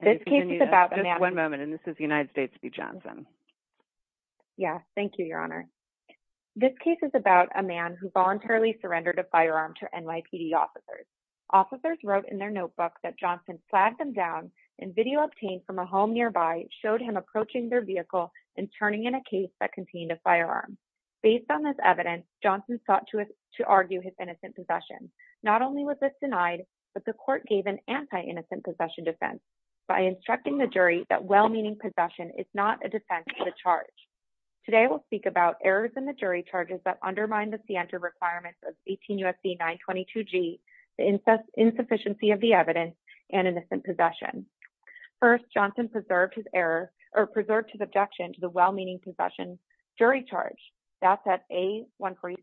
This case is about a man who voluntarily surrendered a firearm to NYPD officers. Officers wrote in their notebook that Johnson slagged them down and video obtained from a home nearby showed him approaching their vehicle and turning in a case that contained a firearm. Based on this evidence, Johnson sought to argue his innocent possession. Not only was this denied, but the court gave an anti-innocent possession defense by instructing the jury that well-meaning possession is not a defense of the charge. Today we'll speak about errors in the jury charges that undermine the Sienta requirements of 18 U.S.C. 922G, the insufficiency of the evidence, and innocent possession. First, Johnson preserved his objection to the well-meaning possession jury charge. That's at A146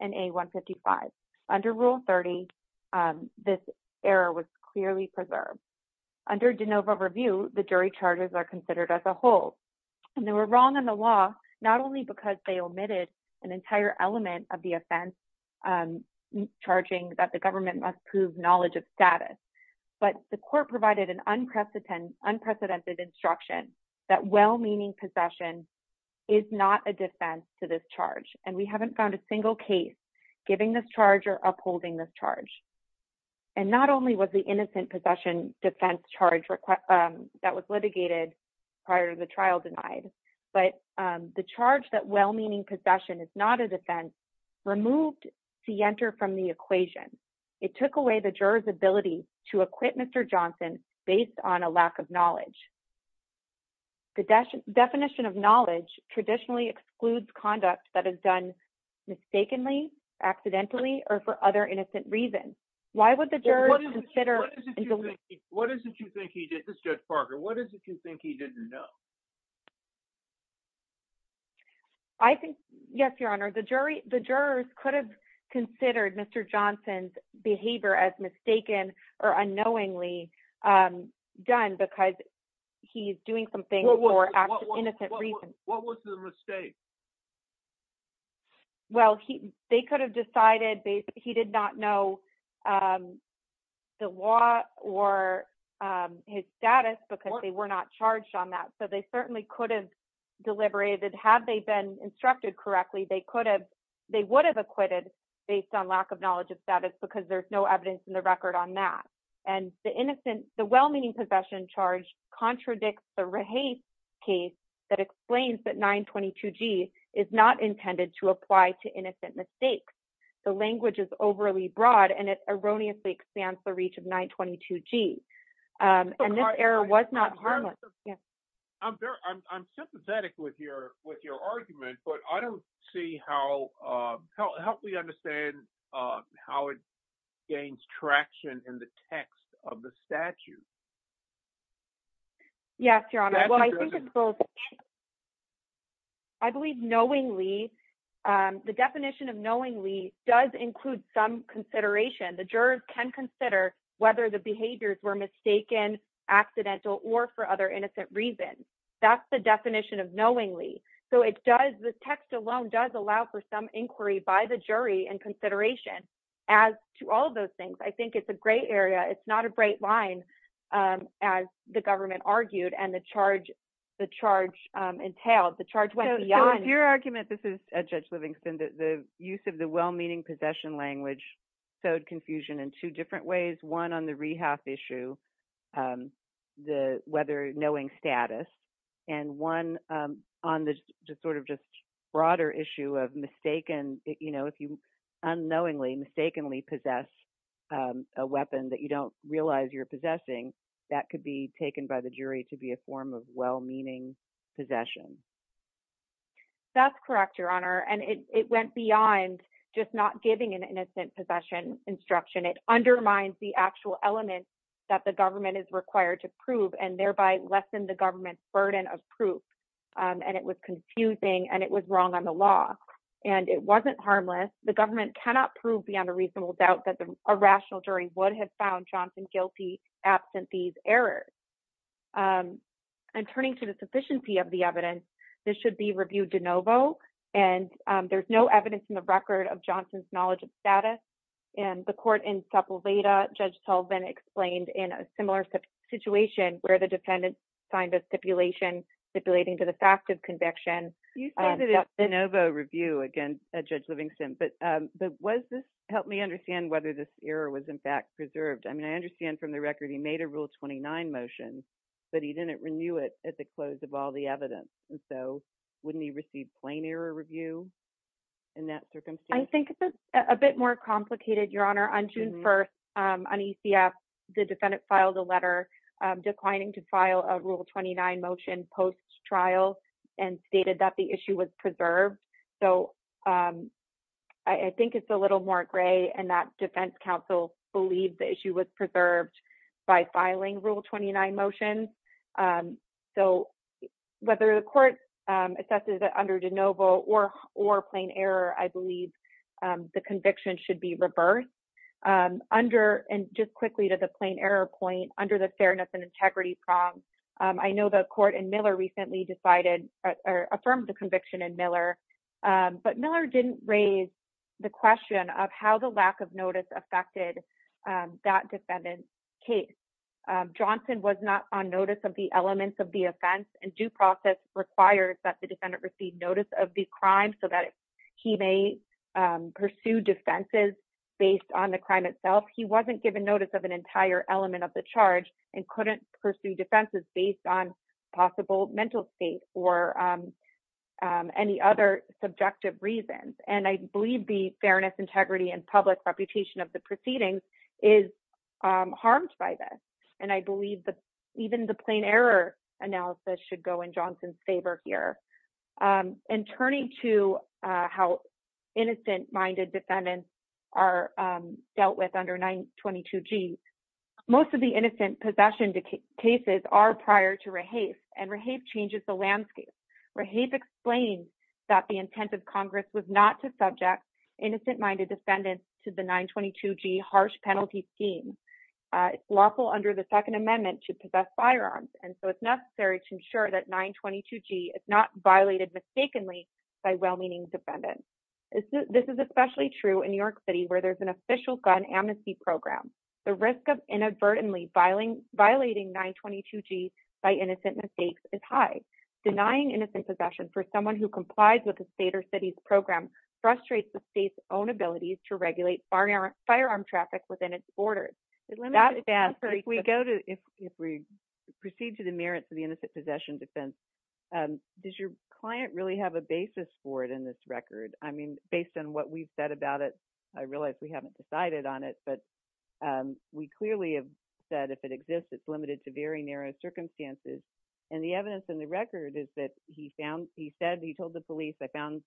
and A155. Under Rule 30, this error was clearly preserved. Under de novo review, the jury charges are considered as a whole. They were wrong in the law not only because they omitted an entire element of the offense charging that the government must prove knowledge of status, but the court provided an unprecedented instruction that well-meaning possession is not a defense to this charge, and we haven't found a single case giving this charge or upholding this charge. Not only was the innocent possession defense charge that was litigated prior to the trial denied, but the charge that well-meaning possession is not a defense removed Sienta from the equation. It took away the juror's ability to acquit Mr. Johnson based on a lack of knowledge. The definition of knowledge traditionally excludes conduct that is done mistakenly, accidentally, or for other innocent reasons. Why would the juror consider— What is it you think he did—this is Judge Parker—what is it you think he didn't know? I think, yes, Your Honor, the jurors could have considered Mr. Johnson's behavior as mistaken or unknowingly done because he's doing something for innocent reasons. What was the mistake? Well, they could have decided he did not know the law or his status because they were not charged on that, so they certainly could have deliberated. Had they been instructed correctly, they would have acquitted based on lack of knowledge of status because there's no evidence in the record on that. And the innocent—the well-meaning possession charge contradicts the Raheith case that explains that 922G is not intended to apply to innocent mistakes. The language is overly broad, and it erroneously expands the reach of 922G, and this error was not harmless. I'm sympathetic with your argument, but I don't see how—help me understand how it contradicts the text of the statute. Yes, Your Honor, well, I think it's both. I believe knowingly—the definition of knowingly does include some consideration. The jurors can consider whether the behaviors were mistaken, accidental, or for other innocent reasons. That's the definition of knowingly. So it does—the text alone does allow for some inquiry by the jury and consideration. As to all of those things, I think it's a gray area. It's not a bright line, as the government argued and the charge entailed. The charge went beyond— So your argument—this is Judge Livingston—that the use of the well-meaning possession language sowed confusion in two different ways, one on the Rehaff issue, the whether—knowing status—and one on the sort of just broader issue of mistaken—you know, if you unknowingly, mistakenly possess a weapon that you don't realize you're possessing, that could be taken by the jury to be a form of well-meaning possession. That's correct, Your Honor, and it went beyond just not giving an innocent possession instruction. It undermines the actual element that the government is required to prove and thereby lessen the government's burden of proof, and it was confusing, and it was wrong on the law, and it wasn't harmless. The government cannot prove beyond a reasonable doubt that a rational jury would have found Johnson guilty absent these errors. And turning to the sufficiency of the evidence, this should be reviewed de novo, and there's no evidence in the record of Johnson's knowledge of status. And the court in Staple Veda, Judge Sullivan, explained in a similar situation where the defendant signed a stipulation stipulating to the fact of conviction— You said it in de novo review, again, Judge Livingston, but was this—help me understand whether this error was in fact preserved. I mean, I understand from the record he made a Rule 29 motion, but he didn't renew it at the close of all the evidence, and so wouldn't he receive plain error review in that circumstance? I think it's a bit more complicated, Your Honor. On June 1st, on ECF, the defendant filed a letter declining to file a Rule 29 motion post-trial and stated that the issue was preserved. So I think it's a little more gray in that defense counsel believed the issue was preserved by filing Rule 29 motions. So whether the court assesses it under de novo or plain error, I believe the conviction should be reversed. Under—and just quickly to the plain error point—under the fairness and integrity prong, I know the court in Miller recently decided—affirmed the conviction in Miller, but Miller didn't raise the question of how the lack of notice affected that defendant's case. Johnson was not on notice of the elements of the offense, and due process requires that the defendant receive notice of the crime so that he may pursue defenses based on the crime itself. He wasn't given notice of an entire element of the charge and couldn't pursue defenses based on possible mental state or any other subjective reasons. And I believe the fairness, integrity, and public reputation of the proceedings is harmed by this. And I believe that even the plain error analysis should go in Johnson's favor here. And turning to how innocent-minded defendants are dealt with under 922G, most of the innocent possession cases are prior to Rahafe, and Rahafe changes the landscape. Rahafe explains that the intent of Congress was not to subject innocent-minded defendants to the 922G harsh penalty scheme. It's lawful under the Second Amendment to possess firearms, and so it's necessary to ensure that 922G is not violated mistakenly by well-meaning defendants. This is especially true in New York City, where there's an official gun amnesty program. The risk of inadvertently violating 922G by innocent mistakes is high. Denying innocent possession for someone who complies with the state or city's program frustrates the state's own ability to regulate firearm traffic within its borders. That's bad. If we go to, if we proceed to the merits of the innocent possession defense, does your client really have a basis for it in this record? I mean, based on what we've said about it, I realize we haven't decided on it, but we clearly have said if it exists, it's limited to very narrow circumstances. And the evidence in the record is that he found, he said, he told the police, I found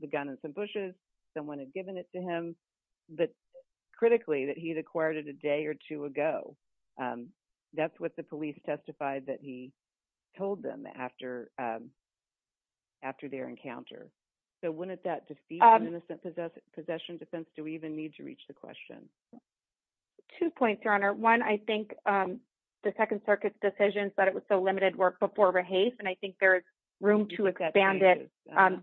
the gun in some bushes, someone had given it to him, but critically, that he had acquired it a day or two ago. That's what the police testified that he told them after, after their encounter. So wouldn't that defeat the innocent possession defense? Do we even need to reach the question? Two points, Your Honor. One, I think the Second Circuit's decision said it was so limited work before rehase, and I think there's room to expand it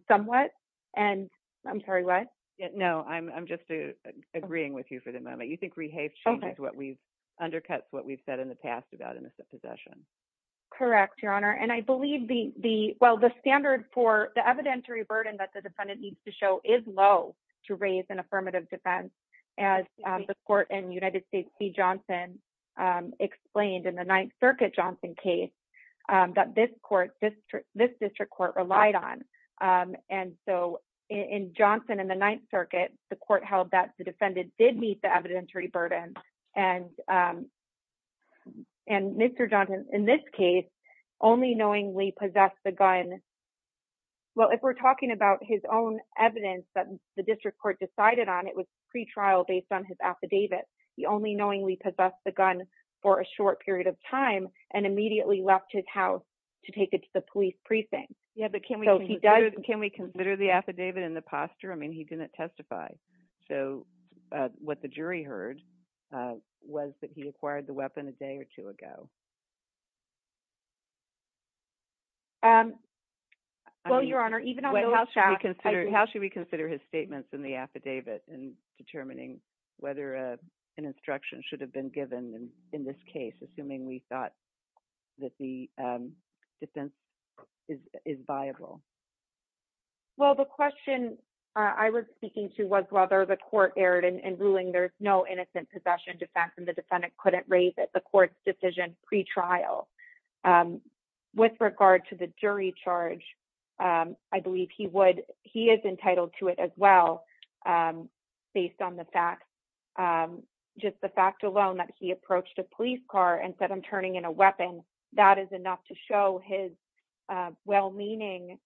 somewhat. And I'm sorry, what? No, I'm just agreeing with you for the moment. You think rehase changes what we've, undercuts what we've said in the past about innocent possession. Correct, Your Honor. And I believe the, the, well, the standard for the evidentiary burden that the defendant needs to show is low to raise an affirmative defense as the court in United States v. Johnson explained in the Ninth Circuit Johnson case that this court, this, this district court relied on. And so in Johnson and the Ninth Circuit, the court held that the defendant did meet the evidentiary burden and, and Mr. Johnson, in this case, only knowingly possessed the gun. Well, if we're talking about his own evidence that the district court decided on, it was pre-trial based on his affidavit. He only knowingly possessed the gun for a short period of time and immediately left his house to take it to the police precinct. Yeah, but can we, can we consider the affidavit in the posture? I mean, he didn't testify. So what the jury heard was that he acquired the weapon a day or two ago. Well, Your Honor, even on the last act, How should we consider his statements in the affidavit in determining whether an instruction should have been given in this case, assuming we thought that the defense is viable? Well, the question I was speaking to was whether the court erred in ruling there's no innocent possession defense and the defendant couldn't raise it, the court's decision pre-trial. With regard to the jury charge, I believe he would, he is entitled to it as well, based on the fact, just the fact alone that he approached a police car and said, I'm turning in a weapon. That is enough to show his well-meaning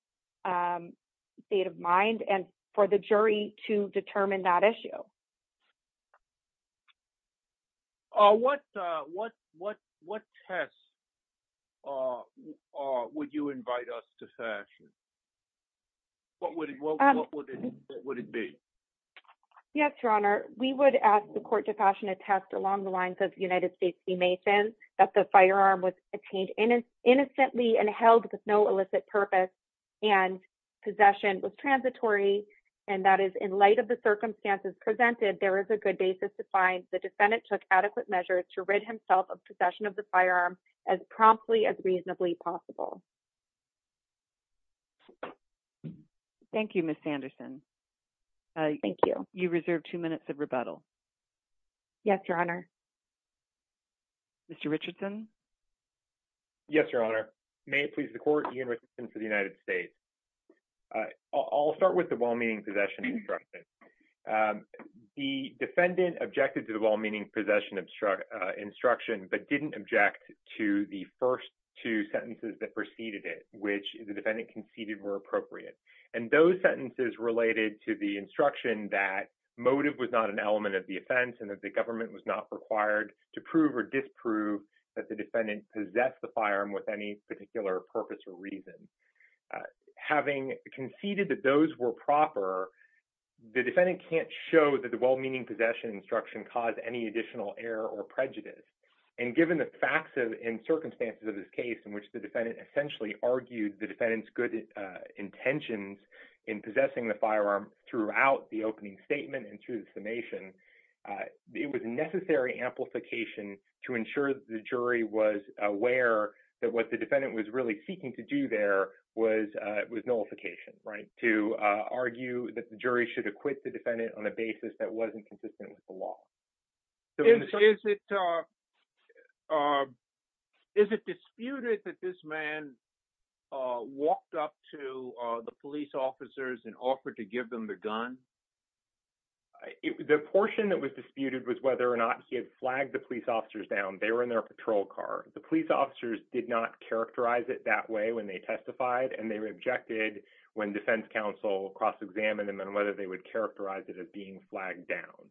state of mind and for the jury to determine that issue. Uh, what, uh, what, what, what test, uh, uh, would you invite us to fashion? What would it be? Yes, Your Honor. We would ask the court to fashion a test along the lines of United States v. Mason, that the firearm was obtained innocently and held with no illicit purpose and possession was presented, there is a good basis to find the defendant took adequate measures to rid himself of possession of the firearm as promptly as reasonably possible. Thank you, Ms. Sanderson. Thank you. You reserve two minutes of rebuttal. Yes, Your Honor. Mr. Richardson. Yes, Your Honor. May it please the court, Ian Richardson for the United States. I'll start with the well-meaning possession instruction. The defendant objected to the well-meaning possession instruction, but didn't object to the first two sentences that preceded it, which the defendant conceded were appropriate. And those sentences related to the instruction that motive was not an element of the offense and that the government was not required to prove or disprove that the defendant possessed the firearm. So, having conceded that those were proper, the defendant can't show that the well-meaning possession instruction caused any additional error or prejudice. And given the facts and circumstances of this case in which the defendant essentially argued the defendant's good intentions in possessing the firearm throughout the opening statement and through the summation, it was necessary amplification to ensure that the jury was aware that what was nullification, right, to argue that the jury should acquit the defendant on a basis that wasn't consistent with the law. Is it disputed that this man walked up to the police officers and offered to give them the gun? The portion that was disputed was whether or not he had flagged the police officers down. They were in their patrol car. The police officers did not characterize it that way when they testified and they rejected when defense counsel cross-examined them and whether they would characterize it as being flagged down.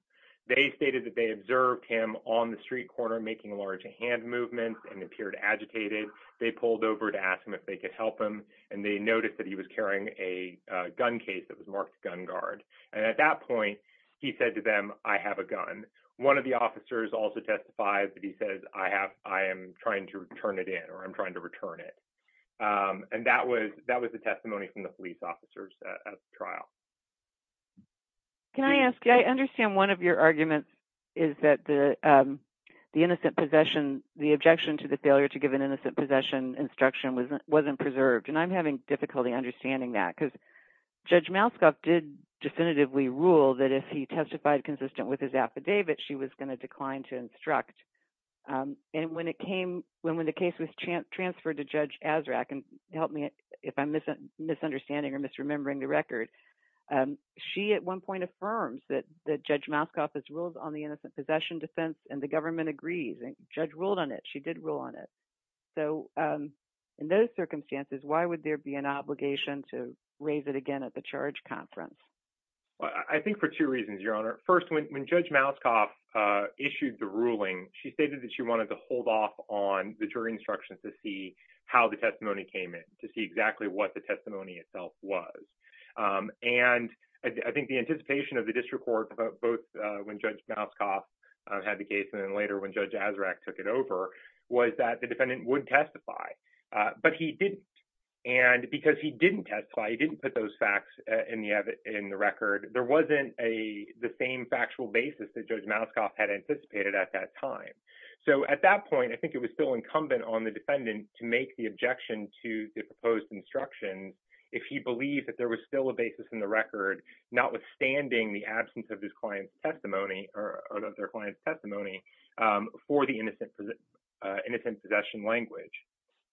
They stated that they observed him on the street corner making large hand movements and appeared agitated. They pulled over to ask him if they could help him and they noticed that he was carrying a gun case that was marked gun guard. And at that point, he said to them, I have a gun. And one of the officers also testified that he says, I am trying to turn it in or I'm trying to return it. And that was the testimony from the police officers at the trial. Can I ask, I understand one of your arguments is that the innocent possession, the objection to the failure to give an innocent possession instruction wasn't preserved. And I'm having difficulty understanding that. Because Judge Moskoff did definitively rule that if he testified consistent with his affidavit, she was going to decline to instruct. And when it came, when the case was transferred to Judge Azraq, and help me if I'm misunderstanding or misremembering the record, she at one point affirms that Judge Moskoff has ruled on the innocent possession defense and the government agrees. Judge ruled on it. She did rule on it. So in those circumstances, why would there be an obligation to raise it again at the charge conference? I think for two reasons, Your Honor. First, when Judge Moskoff issued the ruling, she stated that she wanted to hold off on the jury instructions to see how the testimony came in, to see exactly what the testimony itself was. And I think the anticipation of the district court both when Judge Moskoff had the case and then when Judge Azraq took it over was that the defendant would testify. But he didn't. And because he didn't testify, he didn't put those facts in the record, there wasn't the same factual basis that Judge Moskoff had anticipated at that time. So at that point, I think it was still incumbent on the defendant to make the objection to the proposed instructions if he believed that there was still a basis in the record, notwithstanding the absence of his client's testimony or of their client's testimony for the innocent possession language.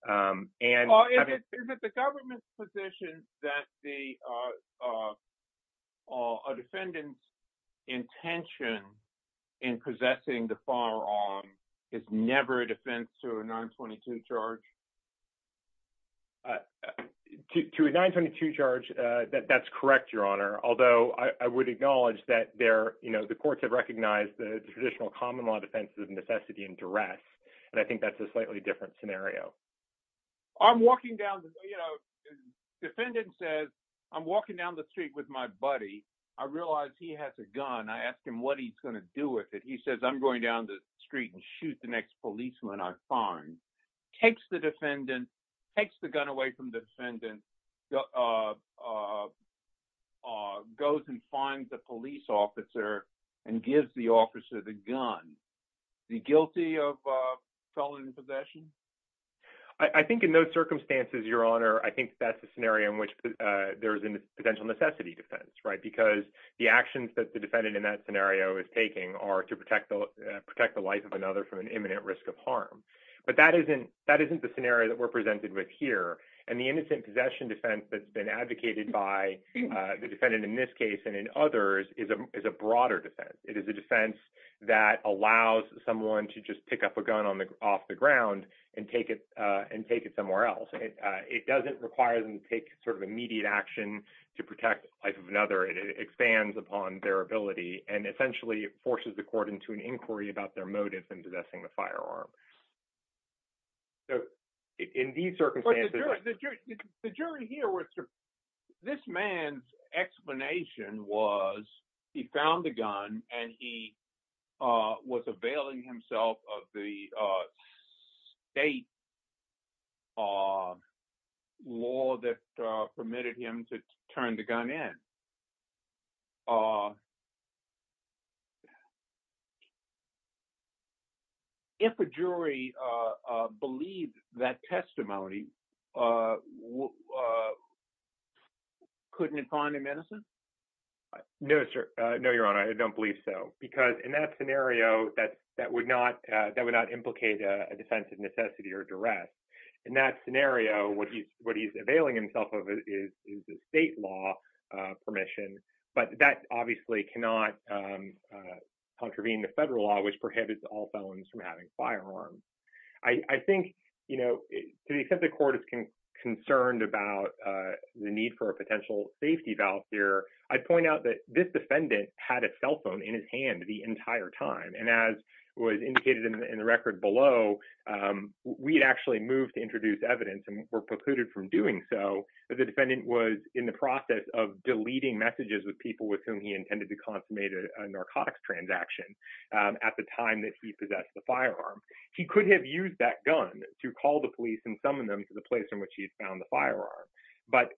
Is it the government's position that a defendant's intention in possessing the firearm is never a defense to a 922 charge? To a 922 charge, that's correct, Your Honor. Although I would acknowledge that the courts have recognized the traditional common law defense of necessity and duress. And I think that's a slightly different scenario. I'm walking down, you know, defendant says I'm walking down the street with my buddy. I realize he has a gun. I ask him what he's going to do with it. He says I'm going down the street and shoot the next policeman I find. Takes the defendant, takes the gun away from the defendant, goes and finds a police officer and gives the officer the gun. Is he guilty of felony possession? I think in those circumstances, Your Honor, I think that's a scenario in which there's a potential necessity defense, right, because the actions that the defendant in that scenario is taking are to But that isn't the scenario that we're presented with here. And the innocent possession defense that's been advocated by the defendant in this case and in others is a broader defense. It is a defense that allows someone to just pick up a gun off the ground and take it somewhere else. It doesn't require them to take sort of immediate action to protect the life of another. It expands upon their ability. And essentially it forces the court into an inquiry about their motive in possessing the firearm. In these circumstances. The jury here, this man's explanation was he found the gun and he was availing himself of the state law that If a jury believes that testimony, couldn't it find him innocent? No, sir. No, Your Honor, I don't believe so. Because in that scenario, that would not implicate a defense of necessity or duress. In that scenario, what he's availing himself of is the state law permission. But that obviously cannot contravene the federal law, which prohibits all felons from having firearms. I think, you know, to the extent the court is concerned about the need for a potential safety valve here, I'd point out that this defendant had a cell phone in his hand the entire time. And as was indicated in the record below, we had actually moved to introduce evidence and were precluded from with people with whom he intended to consummate a narcotics transaction at the time that he possessed the firearm. He could have used that gun to call the police and summon them to the place in which he found the firearm. But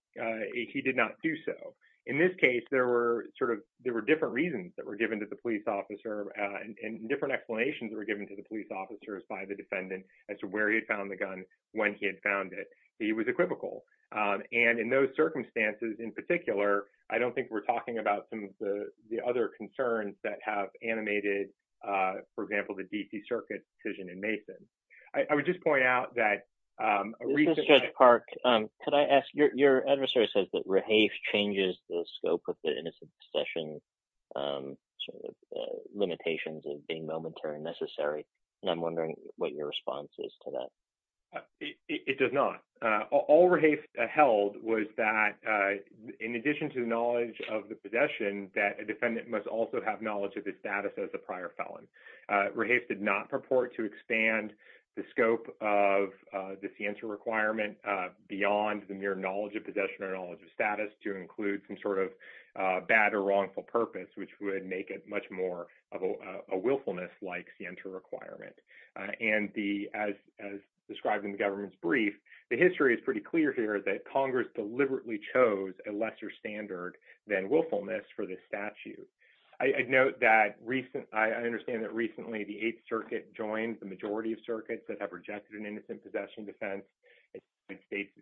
he did not do so. In this case, there were sort of there were different reasons that were given to the police officer and different explanations were given to the police officers by the defendant as to where he found the gun, when he had found it. He was equivocal. And in those circumstances, in particular, I don't think we're talking about some of the other concerns that have animated, for example, the D.C. Circuit decision in Mason. I would just point out that a recent- This is Judge Park. Could I ask, your adversary says that Rahafe changes the scope of the innocent possession limitations of being momentary and necessary. And I'm wondering what your response is to that. It does not. All Rahafe held was that in addition to the knowledge of the possession, that a defendant must also have knowledge of his status as a prior felon. Rahafe did not purport to expand the scope of the scienter requirement beyond the mere knowledge of possession or knowledge of status to include some sort of bad or wrongful purpose, which would make it much more of a willfulness like scienter requirement. And as described in the government's brief, the history is pretty clear here that Congress deliberately chose a lesser standard than willfulness for this statute. I note that recent- I understand that recently the 8th Circuit joined the majority of circuits that have rejected an innocent possession defense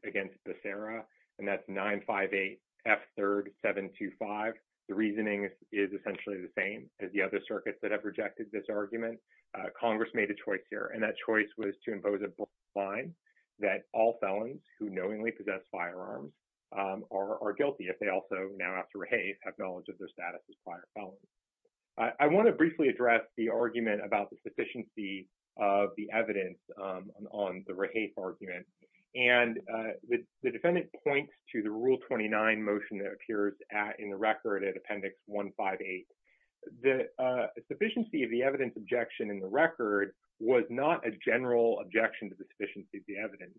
against Becerra. And that's 958 F. 3rd 725. The reasoning is essentially the same as the other circuits that have rejected this argument. Congress made a choice here. And that choice was to impose a broad line that all felons who knowingly possess firearms are guilty if they also now after Rahafe have knowledge of their status as prior felons. I want to briefly address the argument about the sufficiency of the evidence on the Rahafe argument. And the defendant points to the Rule 29 motion that appears in the record at Appendix 158. The sufficiency of the evidence objection in the record was not a general objection to the sufficiency of the evidence.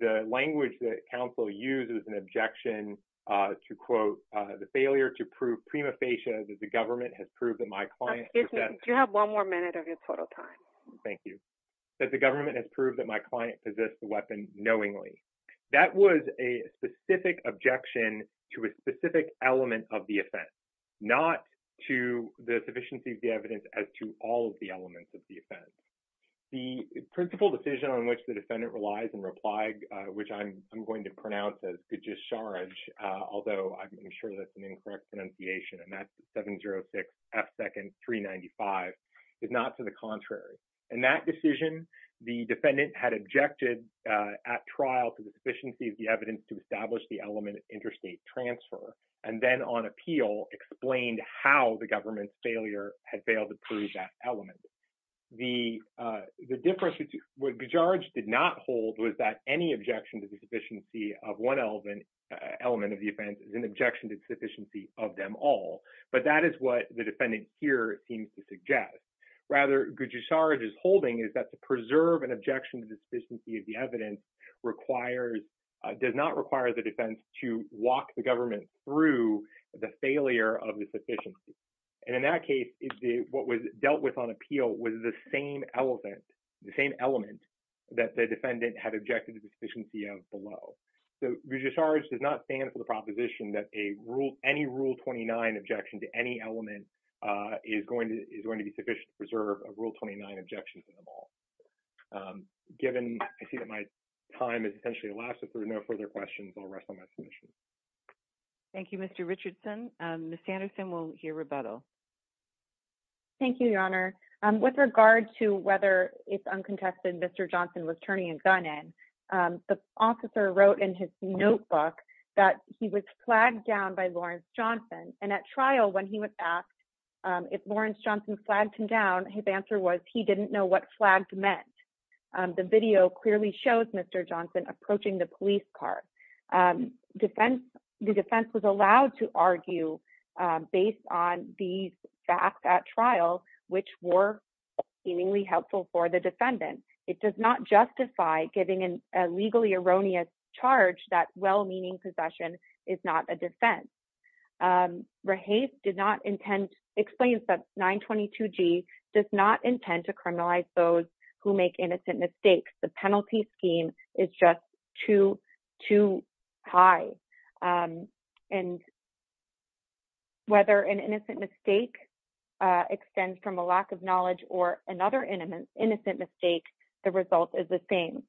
The language that counsel used was an objection to, quote, the failure to prove prima facie that the government has proved that my client- Excuse me. Do you have one more minute of your total time? Thank you. That the government has proved that my client possessed the weapon knowingly. That was a specific objection to a specific element of the offense. Not to the sufficiency of the evidence as to all of the elements of the offense. The principle decision on which the defendant relies in reply, which I'm going to pronounce as good just charge, although I'm sure that's an incorrect pronunciation, and that's 706 F. 2nd 395, is not to the contrary. In that decision, the defendant had objected at trial to the sufficiency of the evidence to establish the element of interstate transfer, and then on appeal explained how the government's failure had failed to prove that element. The difference, what Gujarat did not hold was that any objection to the sufficiency of one element of the offense is an objection to the sufficiency of them all. But that is what the defendant here seems to suggest. Rather, Gujarat is holding is that to preserve an objection to the sufficiency of the evidence requires does not require the defense to walk the government through the failure of the sufficiency. And in that case, what was dealt with on appeal was the same elephant, the same element that the defendant had objected to the sufficiency of below. So, we just charge does not stand for the proposition that a rule, any rule 29 objection to any element is going to is going to be sufficient to preserve a rule 29 objections in the ball. Given, I see that my time is essentially elapsed if there's no further questions, I'll rest on my submission. Thank you, Mr. Richardson, Miss Anderson will hear rebuttal. Thank you, Your Honor. With regard to whether it's uncontested Mr Johnson was turning a gun in. The officer wrote in his notebook that he was flagged down by Lawrence Johnson, and at trial when he was asked if Lawrence Johnson flagged him down his answer was he didn't know what flag meant. The video clearly shows Mr Johnson approaching the police car defense, the defense was allowed to argue, based on these facts at trial, which were seemingly helpful for the defendant. It does not justify giving in a legally erroneous charge that well meaning possession is not a defense. Rahate did not intend explains that 922 G does not intend to criminalize those who make innocent mistakes, the penalty scheme is just too, too high. And whether an innocent mistake extends from a lack of knowledge or another intimate innocent mistake. The result is the same.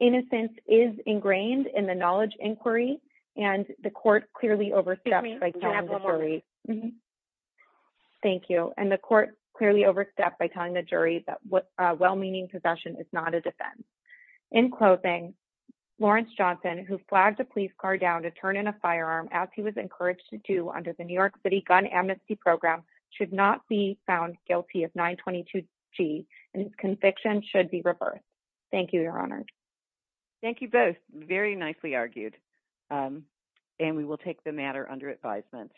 Innocence is ingrained in the knowledge inquiry, and the court clearly overstepped by jury. Thank you, and the court clearly overstepped by telling the jury that what well meaning possession is not a defense in clothing. Lawrence Johnson who flagged the police car down to turn in a firearm, as he was encouraged to do under the New York City gun amnesty program should not be found guilty of 922 G conviction should be reversed. Thank you, Your Honor. Thank you both very nicely argued. And we will take the matter under advisement.